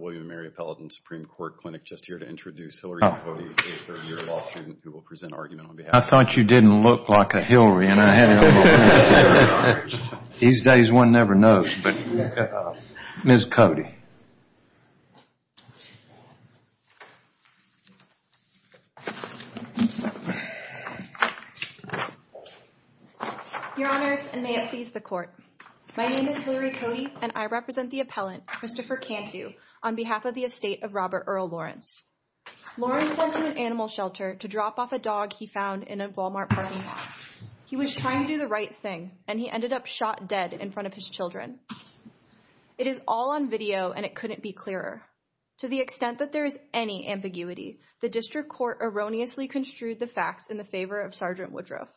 William & Mary Appellate and Supreme Court Clinic just here to introduce Hillary Cote, a third year law student who will present an argument on behalf of the court. I thought you didn't look like a Hillary and I had no idea. These days one never knows. Ms. Cote. My name is Hillary Cote and I represent the appellant Christopher Cantu on behalf of the estate of Robert Earl Lawrence. Lawrence went to an animal shelter to drop off a dog he found in a Walmart parking lot. He was trying to do the right thing and he ended up shot dead in front of his children. It is all on video and it couldn't be clearer. To the extent that there is any ambiguity, the district court erroneously construed the facts in the favor of Sergeant Woodruff.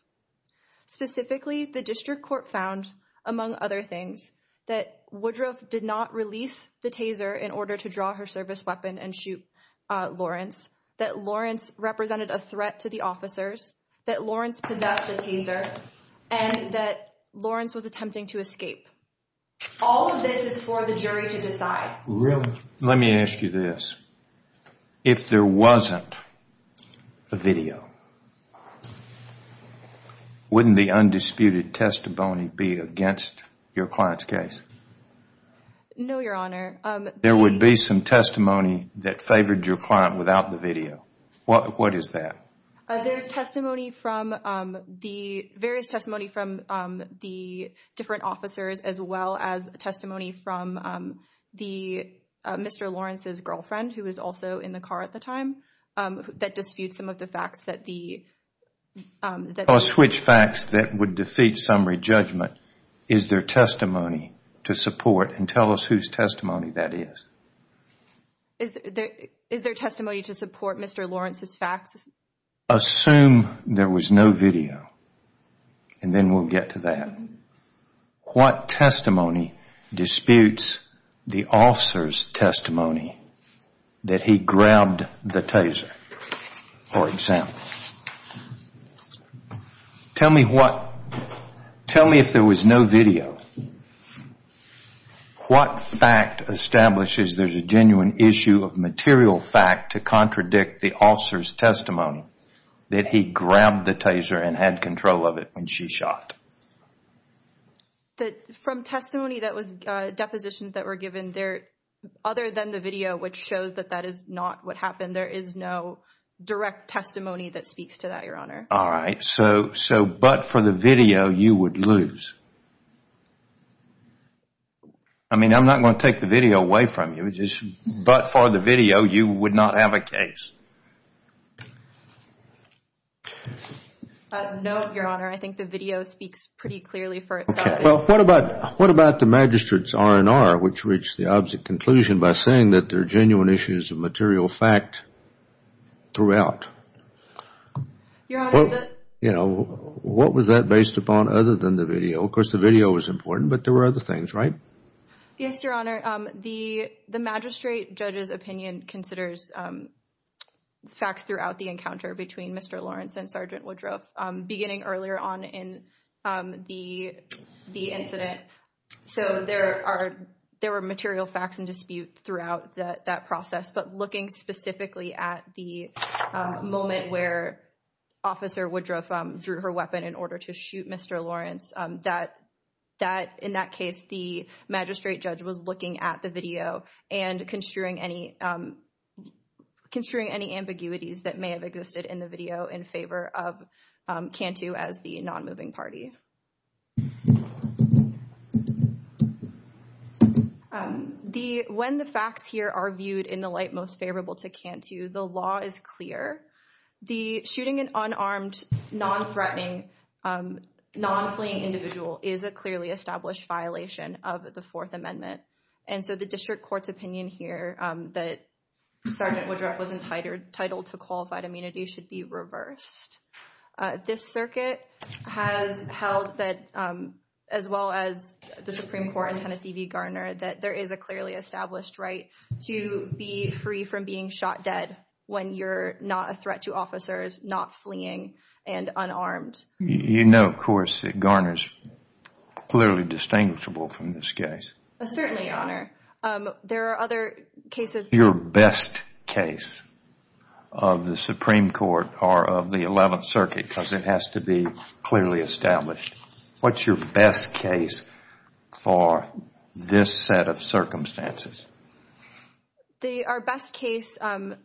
Specifically, the district court found, among other things, that Woodruff did not release the taser in order to draw her service weapon and shoot Lawrence, that Lawrence represented a threat to the officers, that Lawrence possessed the taser, and that Lawrence was attempting to escape. All of this is for the jury to decide. Really? Let me ask you this. If there wasn't a video, wouldn't the undisputed testimony be against your client's case? No, Your Honor. There would be some testimony that favored your client without the video. What is that? There is various testimony from the different officers as well as testimony from Mr. Lawrence's girlfriend, who was also in the car at the time, that disputes some of the facts. Switch facts that would defeat summary judgment. Is there testimony to support and tell us whose testimony that is? Is there testimony to support Mr. Lawrence's facts? Assume there was no video, and then we'll get to that. What testimony disputes the officer's testimony that he grabbed the taser, for example? Tell me what. Tell me if there was no video. What fact establishes there's a genuine issue of material fact to contradict the officer's testimony that he grabbed the taser and had control of it when she shot? From testimony that was, depositions that were given there, other than the video which shows that that is not what happened, there is no direct testimony that speaks to that, Your Honor. All right. So, but for the video, you would lose. I mean, I'm not going to take the video away from you. But for the video, you would not have a case. No, Your Honor. I think the video speaks pretty clearly for itself. Okay. Well, what about the magistrate's R&R which reached the opposite conclusion by saying that there are genuine issues of material fact throughout? Your Honor, the— You know, what was that based upon other than the video? Of course, the video was important, but there were other things, right? Yes, Your Honor. The magistrate judge's opinion considers facts throughout the encounter between Mr. Lawrence and Sergeant Woodruff beginning earlier on in the incident. So, there were material facts in dispute throughout that process. But looking specifically at the moment where Officer Woodruff drew her weapon in order to shoot Mr. Lawrence, that in that case, the magistrate judge was looking at the video and construing any ambiguities that may have existed in the video in favor of Cantu as the nonmoving party. Okay. When the facts here are viewed in the light most favorable to Cantu, the law is clear. The shooting an unarmed, non-threatening, non-fleeing individual is a clearly established violation of the Fourth Amendment. And so, the district court's opinion here that Sergeant Woodruff was entitled to qualified immunity should be reversed. This circuit has held that, as well as the Supreme Court and Tennessee v. Garner, that there is a clearly established right to be free from being shot dead when you're not a threat to officers, not fleeing, and unarmed. You know, of course, that Garner's clearly distinguishable from this case. Certainly, Your Honor. There are other cases. What's your best case of the Supreme Court or of the 11th Circuit? Because it has to be clearly established. What's your best case for this set of circumstances? Our best case, well,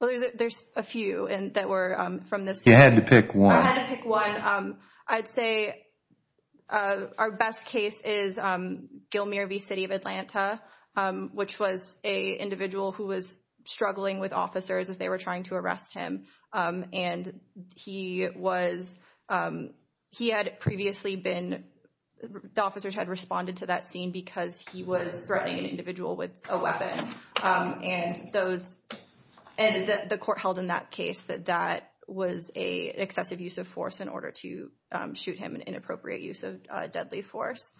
there's a few that were from this. You had to pick one. I had to pick one. I'd say our best case is Gilmere v. City of Atlanta, which was an individual who was struggling with officers as they were trying to arrest him. And he had previously been, the officers had responded to that scene because he was threatening an individual with a weapon. And the court held in that case that that was an excessive use of force in order to shoot him, an inappropriate use of deadly force.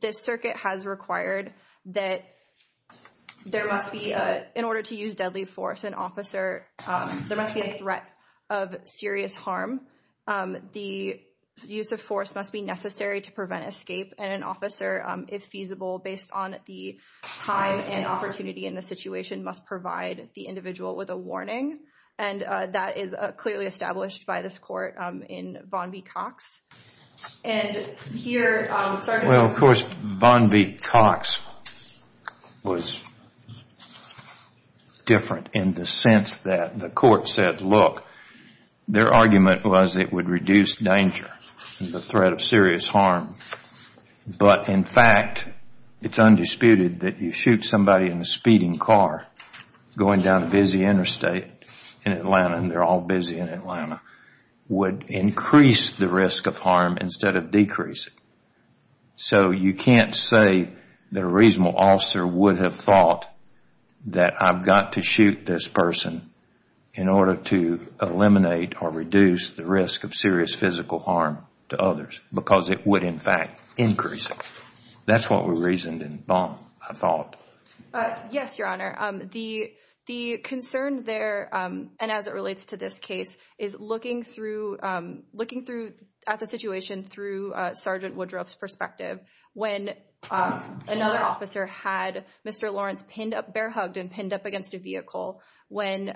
This circuit has required that there must be, in order to use deadly force, an officer, there must be a threat of serious harm. The use of force must be necessary to prevent escape, and an officer, if feasible, based on the time and opportunity in the situation, must provide the individual with a warning. And that is clearly established by this court in Von B. Cox. And here, Sgt. Well, of course, Von B. Cox was different in the sense that the court said, look, their argument was it would reduce danger and the threat of serious harm. But, in fact, it's undisputed that you shoot somebody in a speeding car going down a busy interstate in Atlanta, and they're all busy in Atlanta, would increase the risk of harm instead of decrease it. So you can't say that a reasonable officer would have thought that I've got to shoot this person in order to eliminate or reduce the risk of serious physical harm to others, because it would, in fact, increase it. That's what we reasoned in Von, I thought. Yes, Your Honor. The concern there, and as it relates to this case, is looking at the situation through Sgt. Woodruff's perspective. When another officer had Mr. Lawrence pinned up, bear-hugged and pinned up against a vehicle, when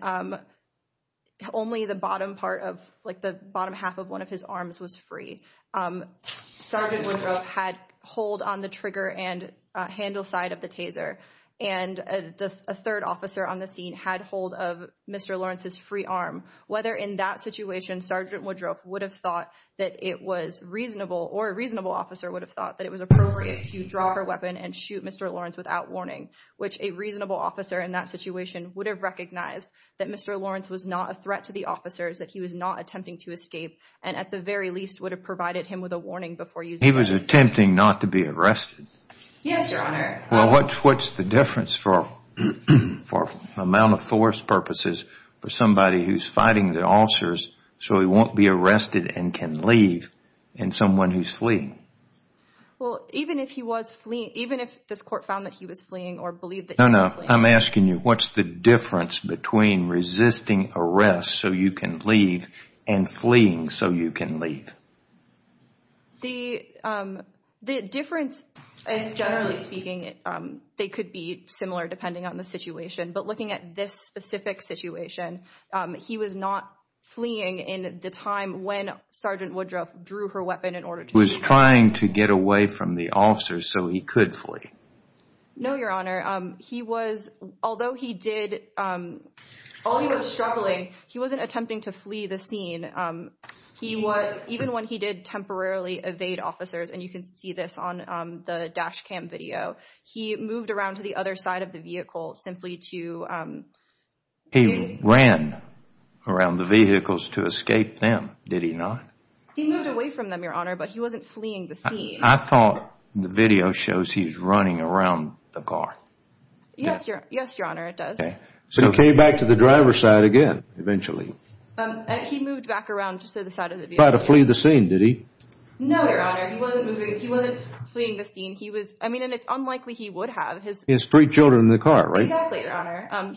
only the bottom half of one of his arms was free, Sgt. Woodruff had hold on the trigger and handle side of the taser, and a third officer on the scene had hold of Mr. Lawrence's free arm. Whether in that situation Sgt. Woodruff would have thought that it was reasonable, or a reasonable officer would have thought that it was appropriate to draw her weapon and shoot Mr. Lawrence without warning, which a reasonable officer in that situation would have recognized that Mr. Lawrence was not a threat to the officers, that he was not attempting to escape, and at the very least would have provided him with a warning before using it. He was attempting not to be arrested? Yes, Your Honor. Well, what's the difference for amount of force purposes for somebody who's fighting the officers so he won't be arrested and can leave and someone who's fleeing? Well, even if he was fleeing, even if this court found that he was fleeing or believed that he was fleeing. No, no. I'm asking you, what's the difference between resisting arrest so you can leave and fleeing so you can leave? The difference is, generally speaking, they could be similar depending on the situation, but looking at this specific situation, he was not fleeing in the time when Sgt. Woodruff drew her weapon in order to He was trying to get away from the officers so he could flee? No, Your Honor. He was, although he did, although he was struggling, he wasn't attempting to flee the scene. Even when he did temporarily evade officers, and you can see this on the dash cam video, he moved around to the other side of the vehicle simply to He ran around the vehicles to escape them, did he not? He moved away from them, Your Honor, but he wasn't fleeing the scene. I thought the video shows he's running around the car. Yes, Your Honor, it does. So he came back to the driver's side again eventually? He moved back around to the other side of the vehicle. He tried to flee the scene, did he? No, Your Honor. He wasn't fleeing the scene. I mean, and it's unlikely he would have. He has three children in the car, right? Exactly, Your Honor.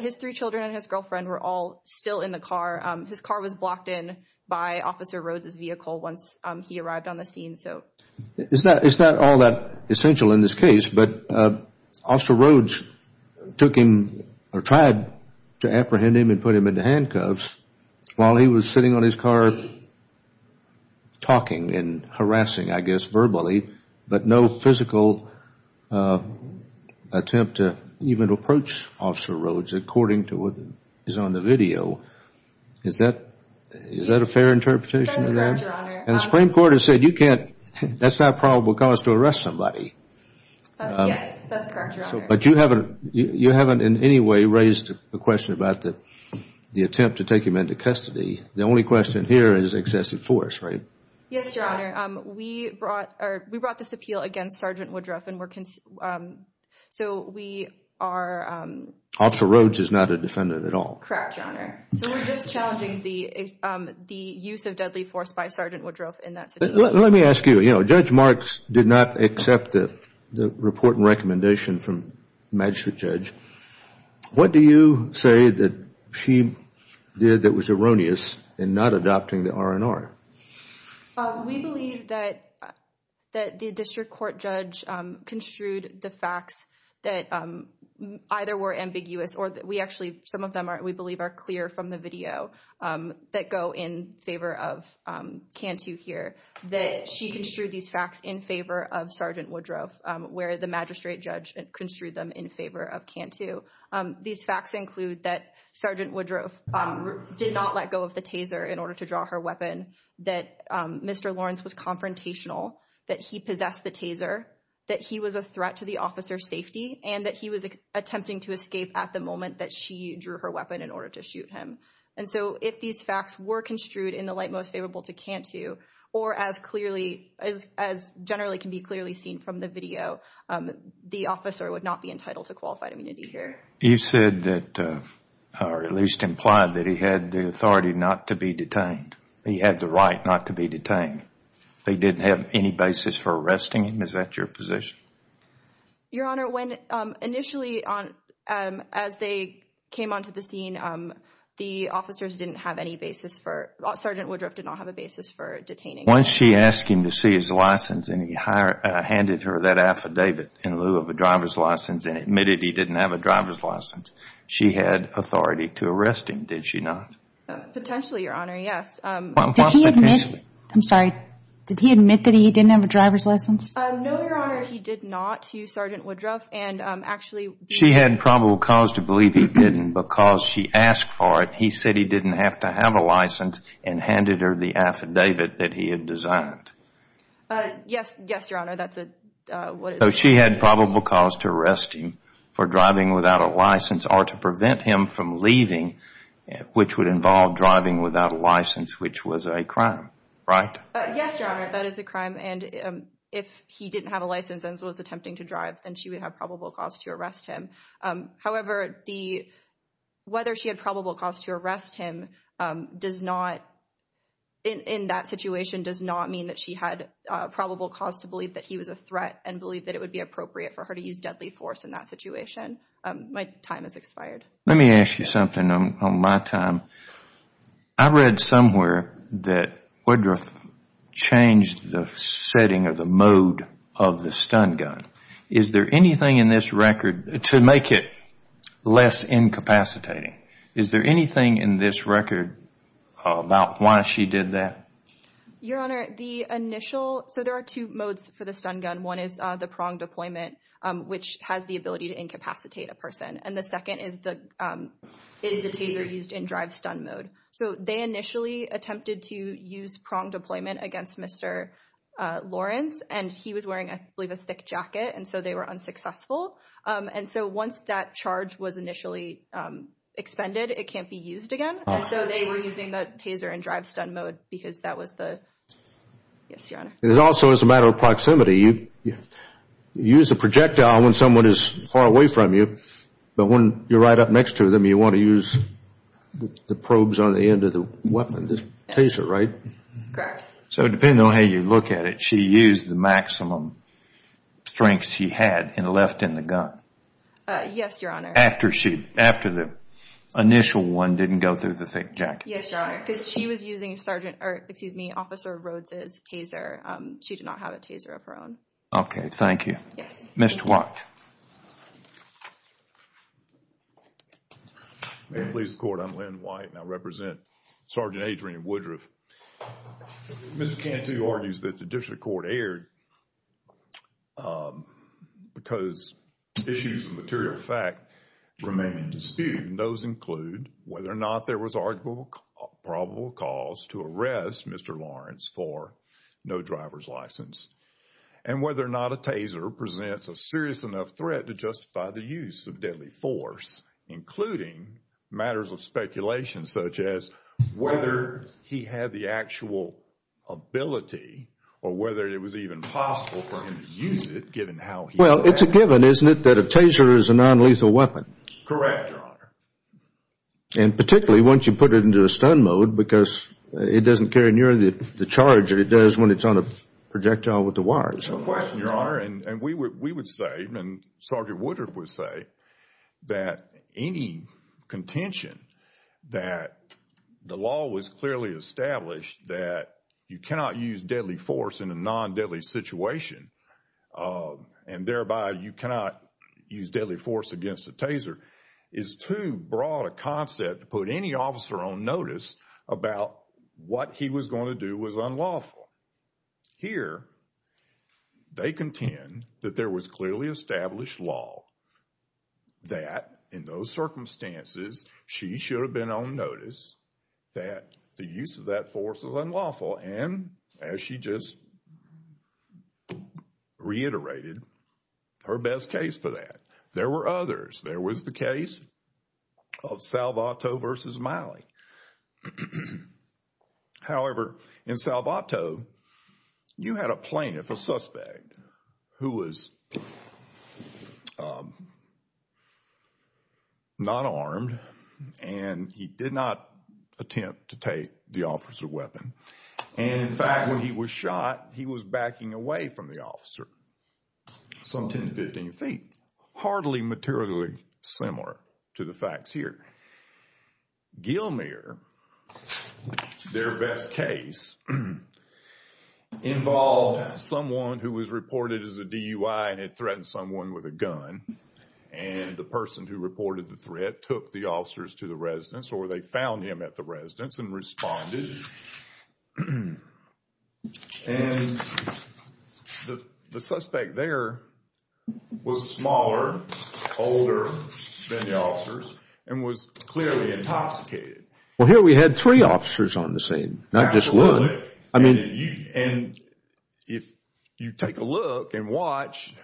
His three children and his girlfriend were all still in the car. His car was blocked in by Officer Rhodes' vehicle once he arrived on the scene. It's not all that essential in this case, but Officer Rhodes took him or tried to apprehend him and put him into handcuffs while he was sitting on his car talking and harassing, I guess, verbally, but no physical attempt to even approach Officer Rhodes according to what is on the video. Is that a fair interpretation of that? That's correct, Your Honor. And the Supreme Court has said you can't, that's not probable cause to arrest somebody. Yes, that's correct, Your Honor. But you haven't in any way raised a question about the attempt to take him into custody. The only question here is excessive force, right? Yes, Your Honor. We brought this appeal against Sergeant Woodruff and we're, so we are... Correct, Your Honor. So we're just challenging the use of deadly force by Sergeant Woodruff in that situation. Let me ask you, you know, Judge Marks did not accept the report and recommendation from the magistrate judge. What do you say that she did that was erroneous in not adopting the R&R? We believe that the district court judge construed the facts that either were ambiguous or we actually, some of them we believe are clear from the video that go in favor of Cantu here, that she construed these facts in favor of Sergeant Woodruff, where the magistrate judge construed them in favor of Cantu. These facts include that Sergeant Woodruff did not let go of the taser in order to draw her weapon, that Mr. Lawrence was confrontational, that he possessed the taser, that he was a threat to the officer's safety, and that he was attempting to escape at the moment that she drew her weapon in order to shoot him. And so if these facts were construed in the light most favorable to Cantu or as clearly, as generally can be clearly seen from the video, the officer would not be entitled to qualified immunity here. You said that, or at least implied that he had the authority not to be detained. He had the right not to be detained. They didn't have any basis for arresting him. Is that your position? Your Honor, when initially on, as they came onto the scene, the officers didn't have any basis for, Sergeant Woodruff did not have a basis for detaining. Once she asked him to see his license and he handed her that affidavit in lieu of a driver's license and admitted he didn't have a driver's license, she had authority to arrest him, did she not? Potentially, Your Honor, yes. Did he admit, I'm sorry, did he admit that he didn't have a driver's license? No, Your Honor, he did not, Sergeant Woodruff, and actually She had probable cause to believe he didn't because she asked for it. He said he didn't have to have a license and handed her the affidavit that he had designed. Yes, Your Honor, that's what it says. So she had probable cause to arrest him for driving without a license or to prevent him from leaving, which would involve driving without a license, which was a crime, right? Yes, Your Honor, that is a crime, and if he didn't have a license and was attempting to drive, then she would have probable cause to arrest him. However, whether she had probable cause to arrest him does not, in that situation, does not mean that she had probable cause to believe that he was a threat and believe that it would be appropriate for her to use deadly force in that situation. My time has expired. Let me ask you something on my time. I read somewhere that Woodruff changed the setting or the mode of the stun gun. Is there anything in this record to make it less incapacitating? Is there anything in this record about why she did that? Your Honor, the initial, so there are two modes for the stun gun. One is the prong deployment, which has the ability to incapacitate a person, and the second is the taser used in drive-stun mode. So they initially attempted to use prong deployment against Mr. Lawrence, and he was wearing, I believe, a thick jacket, and so they were unsuccessful. And so once that charge was initially expended, it can't be used again, and so they were using the taser in drive-stun mode because that was the, yes, Your Honor. And it also is a matter of proximity. You use a projectile when someone is far away from you, but when you're right up next to them, you want to use the probes on the end of the weapon, the taser, right? Correct. So depending on how you look at it, she used the maximum strength she had and left in the gun? Yes, Your Honor. After the initial one didn't go through the thick jacket? Yes, Your Honor, because she was using Sergeant, or excuse me, Officer Rhodes' taser. She did not have a taser of her own. Okay, thank you. Yes. Mr. White. Ma'am, police court, I'm Len White, and I represent Sergeant Adrian Woodruff. Mr. Cantu argues that the district court erred because issues of material fact remain in dispute, and those include whether or not there was probable cause to arrest Mr. Lawrence for no driver's license and whether or not a taser presents a serious enough threat to justify the use of deadly force, including matters of speculation such as whether he had the actual ability or whether it was even possible for him to use it given how he was acting. Well, it's a given, isn't it, that a taser is a nonlethal weapon? Correct, Your Honor. And particularly once you put it into a stun mode because it doesn't carry nearly the charge that it does when it's on a projectile with the wires. It's a question, Your Honor, and we would say, and Sergeant Woodruff would say, that any contention that the law was clearly established that you cannot use deadly force in a non-deadly situation and thereby you cannot use deadly force against a taser is too broad a concept to put any officer on notice about what he was going to do was unlawful. Here, they contend that there was clearly established law that, in those circumstances, she should have been on notice that the use of that force was unlawful and, as she just reiterated, her best case for that. There were others. There was the case of Salvato versus Miley. However, in Salvato, you had a plaintiff, a suspect, who was not armed and he did not attempt to take the officer's weapon. And, in fact, when he was shot, he was backing away from the officer some 10 to 15 feet, hardly materially similar to the facts here. Gilmour, their best case, involved someone who was reported as a DUI and had threatened someone with a gun. And the person who reported the threat took the officers to the residence or they found him at the residence and responded. And the suspect there was smaller, older than the officers, and was clearly intoxicated. Well, here we had three officers on the scene, not just one. And if you take a look and watch,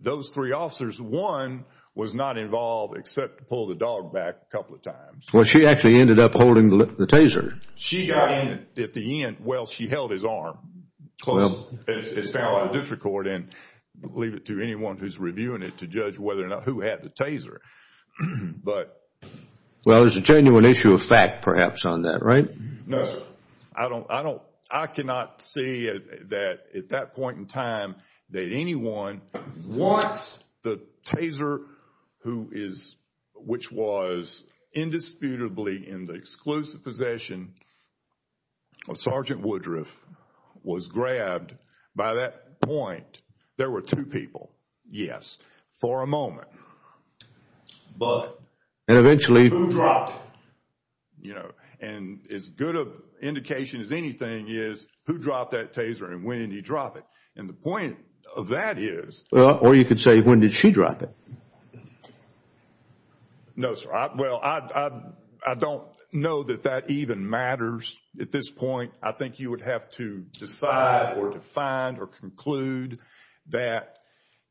those three officers, one was not involved except to pull the dog back a couple of times. Well, she actually ended up holding the taser. She got in at the end. Well, she held his arm. It's found on a district court and leave it to anyone who's reviewing it to judge whether or not who had the taser. Well, there's a genuine issue of fact, perhaps, on that, right? No, sir. I cannot see that at that point in time that anyone wants the taser, which was indisputably in the exclusive possession of Sergeant Woodruff, was grabbed by that point. There were two people, yes, for a moment. But who dropped it? And as good an indication as anything is, who dropped that taser and when did he drop it? And the point of that is... Or you could say, when did she drop it? No, sir. Well, I don't know that that even matters at this point. I think you would have to decide or to find or conclude that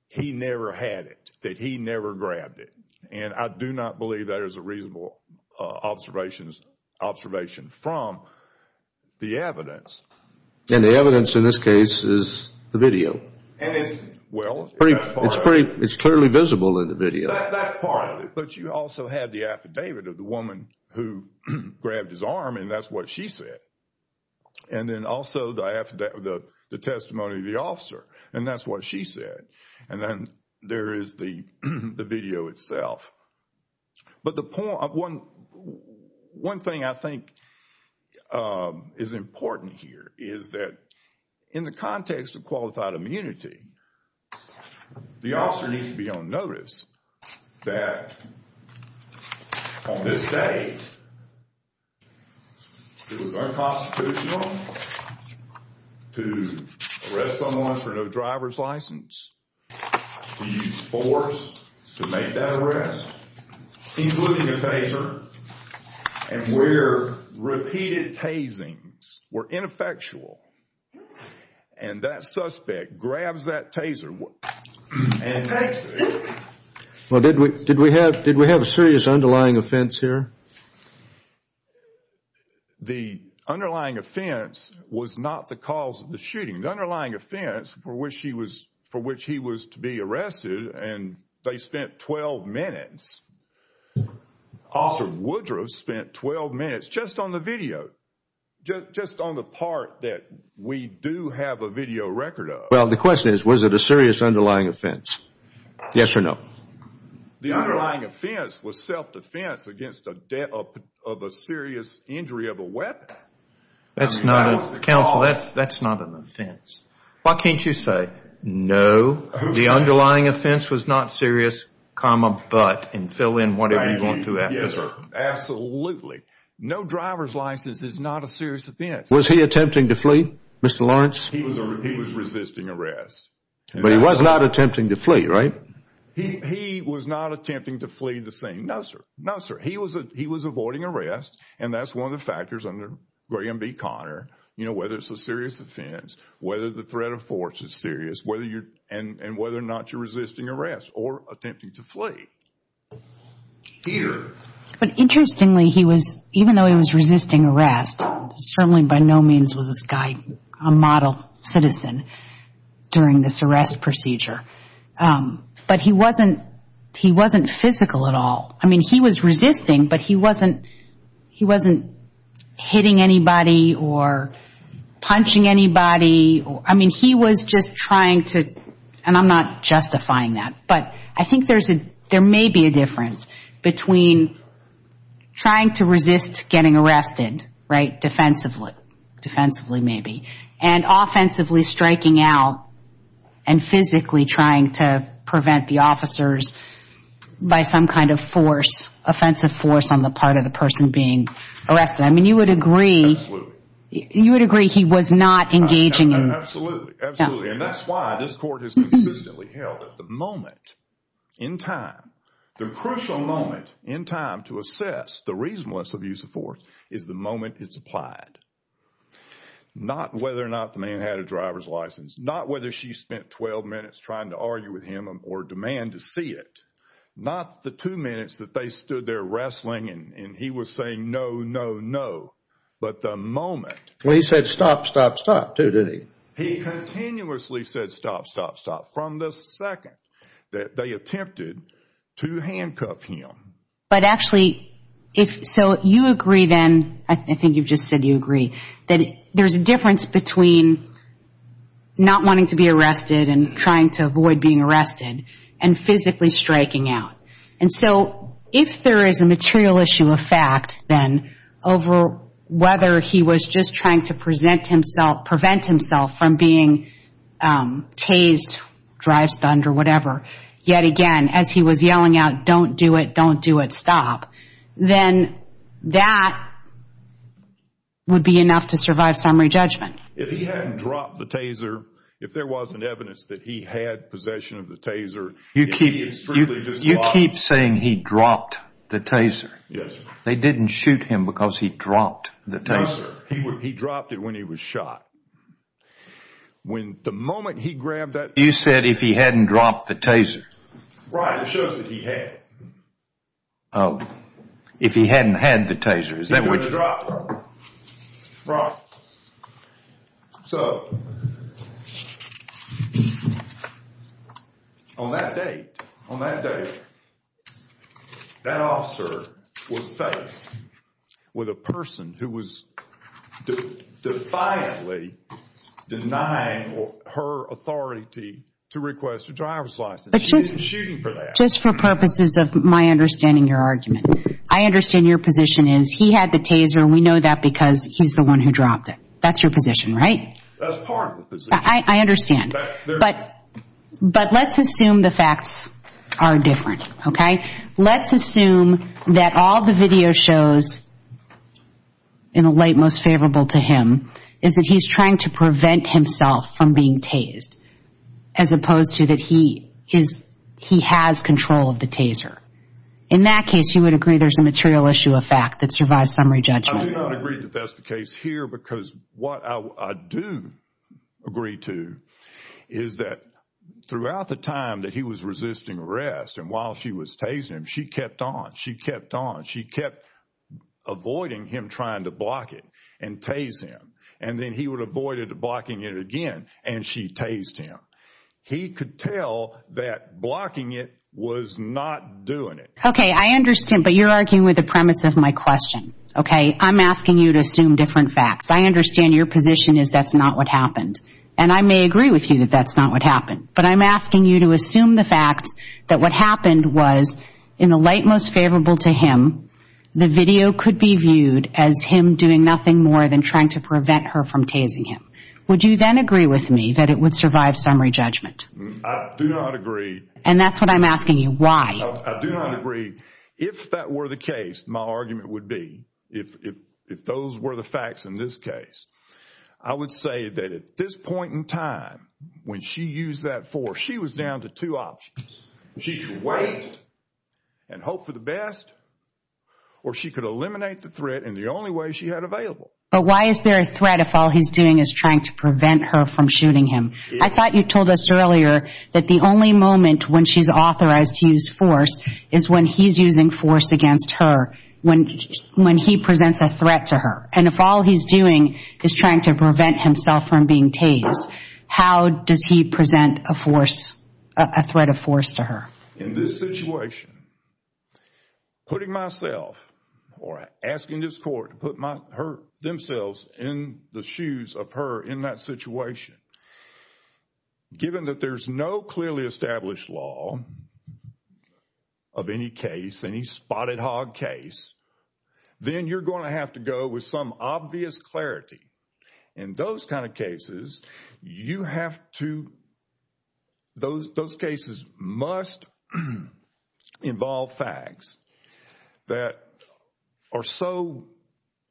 he never had it, that he never grabbed it. And I do not believe that is a reasonable observation from the evidence. And the evidence in this case is the video. Well, that's part of it. It's clearly visible in the video. That's part of it. But you also have the affidavit of the woman who grabbed his arm, and that's what she said. And then also the testimony of the officer, and that's what she said. And then there is the video itself. But one thing I think is important here is that in the context of qualified immunity, the officer needs to be on notice that on this day it was unconstitutional to arrest someone for no driver's license. He's forced to make that arrest, including a taser, and where repeated tasings were ineffectual, and that suspect grabs that taser and takes it. Well, did we have a serious underlying offense here? The underlying offense was not the cause of the shooting. The underlying offense for which he was to be arrested, and they spent 12 minutes. Officer Woodruff spent 12 minutes just on the video, just on the part that we do have a video record of. Well, the question is, was it a serious underlying offense? Yes or no? The underlying offense was self-defense against a serious injury of a weapon. Counsel, that's not an offense. Why can't you say, no, the underlying offense was not serious, but, and fill in whatever you want to after that. Absolutely. No driver's license is not a serious offense. Was he attempting to flee, Mr. Lawrence? He was resisting arrest. But he was not attempting to flee, right? Right. He was not attempting to flee the scene. No, sir. No, sir. He was avoiding arrest, and that's one of the factors under Graham v. Conner, whether it's a serious offense, whether the threat of force is serious, and whether or not you're resisting arrest or attempting to flee. Peter. But interestingly, he was, even though he was resisting arrest, certainly by no means was this guy a model citizen during this arrest procedure. But he wasn't physical at all. I mean, he was resisting, but he wasn't hitting anybody or punching anybody. I mean, he was just trying to, and I'm not justifying that, but I think there may be a difference between trying to resist getting arrested, right, defensively maybe, and offensively striking out and physically trying to prevent the officers by some kind of force, offensive force on the part of the person being arrested. I mean, you would agree he was not engaging in. Absolutely, absolutely. And that's why this court has consistently held that the moment in time, the crucial moment in time to assess the reasonableness of use of force is the moment it's applied, not whether or not the man had a driver's license, not whether she spent 12 minutes trying to argue with him or demand to see it, not the two minutes that they stood there wrestling and he was saying no, no, no, but the moment. Well, he said stop, stop, stop too, didn't he? He continuously said stop, stop, stop from the second that they attempted to handcuff him. But actually, so you agree then, I think you've just said you agree, that there's a difference between not wanting to be arrested and trying to avoid being arrested and physically striking out. And so if there is a material issue of fact then over whether he was just trying to present himself, from being tased, drive stunned or whatever, yet again as he was yelling out, don't do it, don't do it, stop, then that would be enough to survive summary judgment. If he hadn't dropped the taser, if there wasn't evidence that he had possession of the taser, if he had strictly just dropped it. You keep saying he dropped the taser. Yes, sir. They didn't shoot him because he dropped the taser. No, sir. He dropped it when he was shot. When the moment he grabbed that. You said if he hadn't dropped the taser. Right, it shows that he had. Oh, if he hadn't had the taser, is that what. He would have dropped it. Right. So, on that date, that officer was faced with a person who was defiantly denying her authority to request a driver's license. She didn't shoot him for that. Just for purposes of my understanding your argument, I understand your position is he had the taser and we know that because he's the one who dropped it. That's your position, right? That's part of the position. I understand. But let's assume the facts are different, okay? Let's assume that all the video shows in a light most favorable to him is that he's trying to prevent himself from being tased as opposed to that he has control of the taser. In that case, you would agree there's a material issue of fact that survives summary judgment. I do not agree that that's the case here because what I do agree to is that throughout the time that he was resisting arrest and while she was tasing him, she kept on, she kept on, she kept avoiding him trying to block it and tase him. And then he would avoid blocking it again and she tased him. He could tell that blocking it was not doing it. Okay, I understand. But you're arguing with the premise of my question, okay? I'm asking you to assume different facts. I understand your position is that's not what happened. And I may agree with you that that's not what happened. But I'm asking you to assume the fact that what happened was in the light most favorable to him, the video could be viewed as him doing nothing more than trying to prevent her from tasing him. Would you then agree with me that it would survive summary judgment? I do not agree. And that's what I'm asking you, why? I do not agree. If that were the case, my argument would be, if those were the facts in this case, I would say that at this point in time when she used that force, she was down to two options. She could wait and hope for the best or she could eliminate the threat in the only way she had available. But why is there a threat if all he's doing is trying to prevent her from shooting him? I thought you told us earlier that the only moment when she's authorized to use force is when he's using force against her, when he presents a threat to her. And if all he's doing is trying to prevent himself from being tased, how does he present a threat of force to her? In this situation, putting myself or asking this court to put themselves in the shoes of her in that situation, given that there's no clearly established law of any case, any spotted hog case, then you're going to have to go with some obvious clarity. In those kind of cases, those cases must involve facts that are so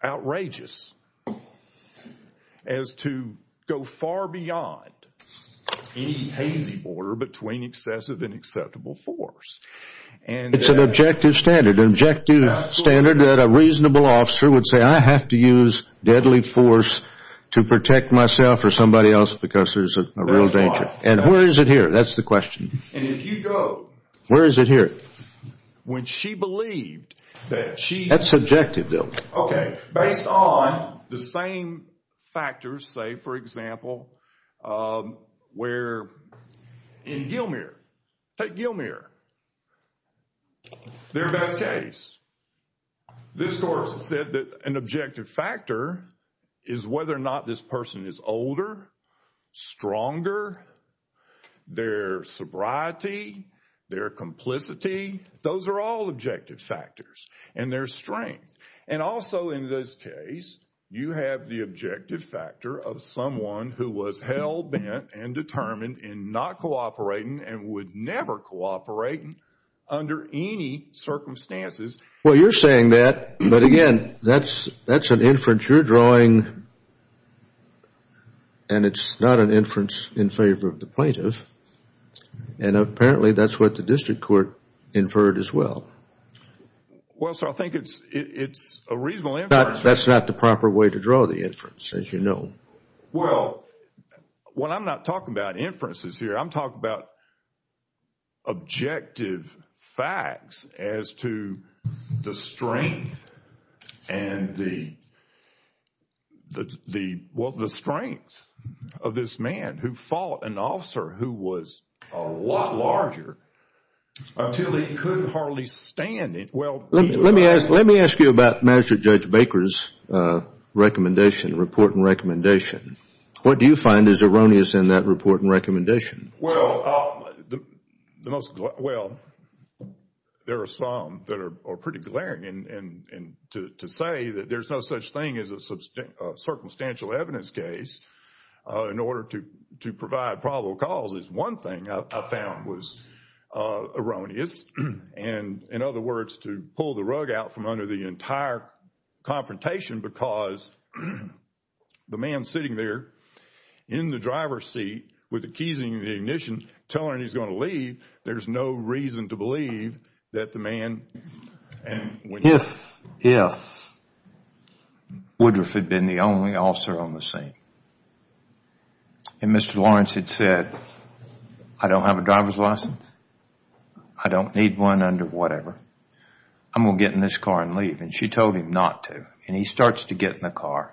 outrageous as to go far beyond any hazy border between excessive and acceptable force. It's an objective standard. An objective standard that a reasonable officer would say, I have to use deadly force to protect myself or somebody else because there's a real danger. And where is it here? That's the question. And if you go... Where is it here? That's subjective, Bill. Okay. Based on the same factors, say, for example, where in Gilmour. Take Gilmour. Their best case. This court said that an objective factor is whether or not this person is older, stronger, their sobriety, their complicity. Those are all objective factors. And their strength. And also in this case, you have the objective factor of someone who was hell-bent and determined in not cooperating and would never cooperate under any circumstances. Well, you're saying that, but again, that's an inference you're drawing. And it's not an inference in favor of the plaintiff. And apparently that's what the district court inferred as well. Well, sir, I think it's a reasonable inference. That's not the proper way to draw the inference, as you know. Well, I'm not talking about inferences here. I'm talking about objective facts as to the strength and the... Well, the strength of this man who fought an officer who was a lot larger until he couldn't hardly stand it. Let me ask you about Judge Baker's recommendation, report and recommendation. What do you find is erroneous in that report and recommendation? Well, there are some that are pretty glaring. And to say that there's no such thing as a circumstantial evidence case in order to provide probable cause is one thing I found was erroneous. And in other words, to pull the rug out from under the entire confrontation because the man sitting there in the driver's seat with the keys in the ignition telling him he's going to leave, there's no reason to believe that the man... If Woodruff had been the only officer on the scene and Mr. Lawrence had said, I don't have a driver's license, I don't need one under whatever, I'm going to get in this car and leave. And she told him not to. And he starts to get in the car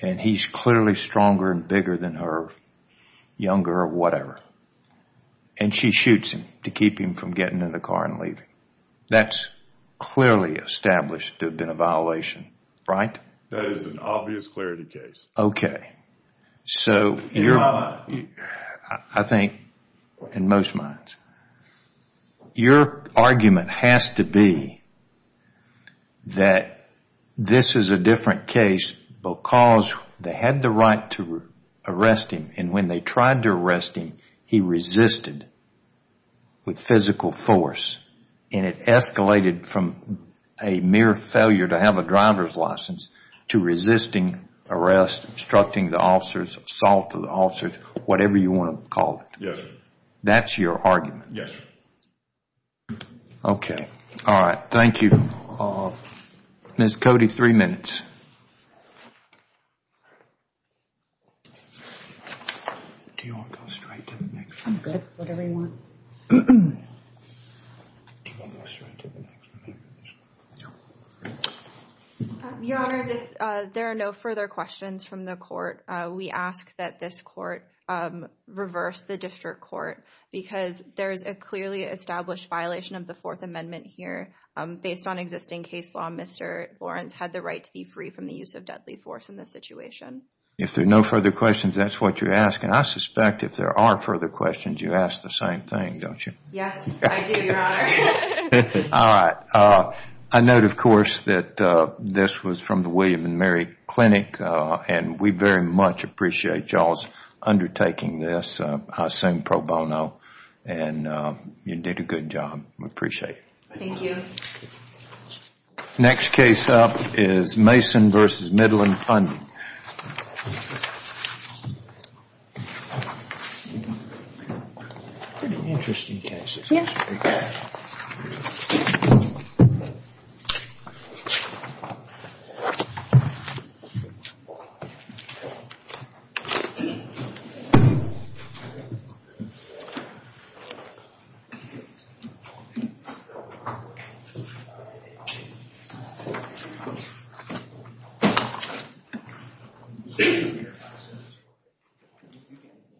and he's clearly stronger and bigger than her, younger or whatever. And she shoots him to keep him from getting in the car and leaving. That's clearly established to have been a violation, right? That is an obvious clarity case. Okay. So I think in most minds, your argument has to be that this is a different case because they had the right to arrest him and when they tried to arrest him, he resisted with physical force. And it escalated from a mere failure to have a driver's license to resisting arrest, obstructing the officers, assaulting the officers, whatever you want to call it. Yes, sir. That's your argument? Yes, sir. Okay. All right. Thank you. Ms. Cody, three minutes. Do you want to go straight to the next one? I'm good. Whatever you want. Do you want to go straight to the next one? No. Your Honor, if there are no further questions from the court, we ask that this court reverse the district court because there is a clearly established violation of the Fourth Amendment here. Based on existing case law, Mr. Lawrence had the right to be free from the use of deadly force in this situation. If there are no further questions, that's what you're asking. I suspect if there are further questions, you ask the same thing, don't you? Yes, I do, Your Honor. All right. I note, of course, that this was from the William & Mary Clinic and we very much appreciate y'all's undertaking this. I assume pro bono and you did a good job. We appreciate it. Thank you. Next case up is Mason v. Midland Funding. Pretty interesting cases. Yes. Thank you.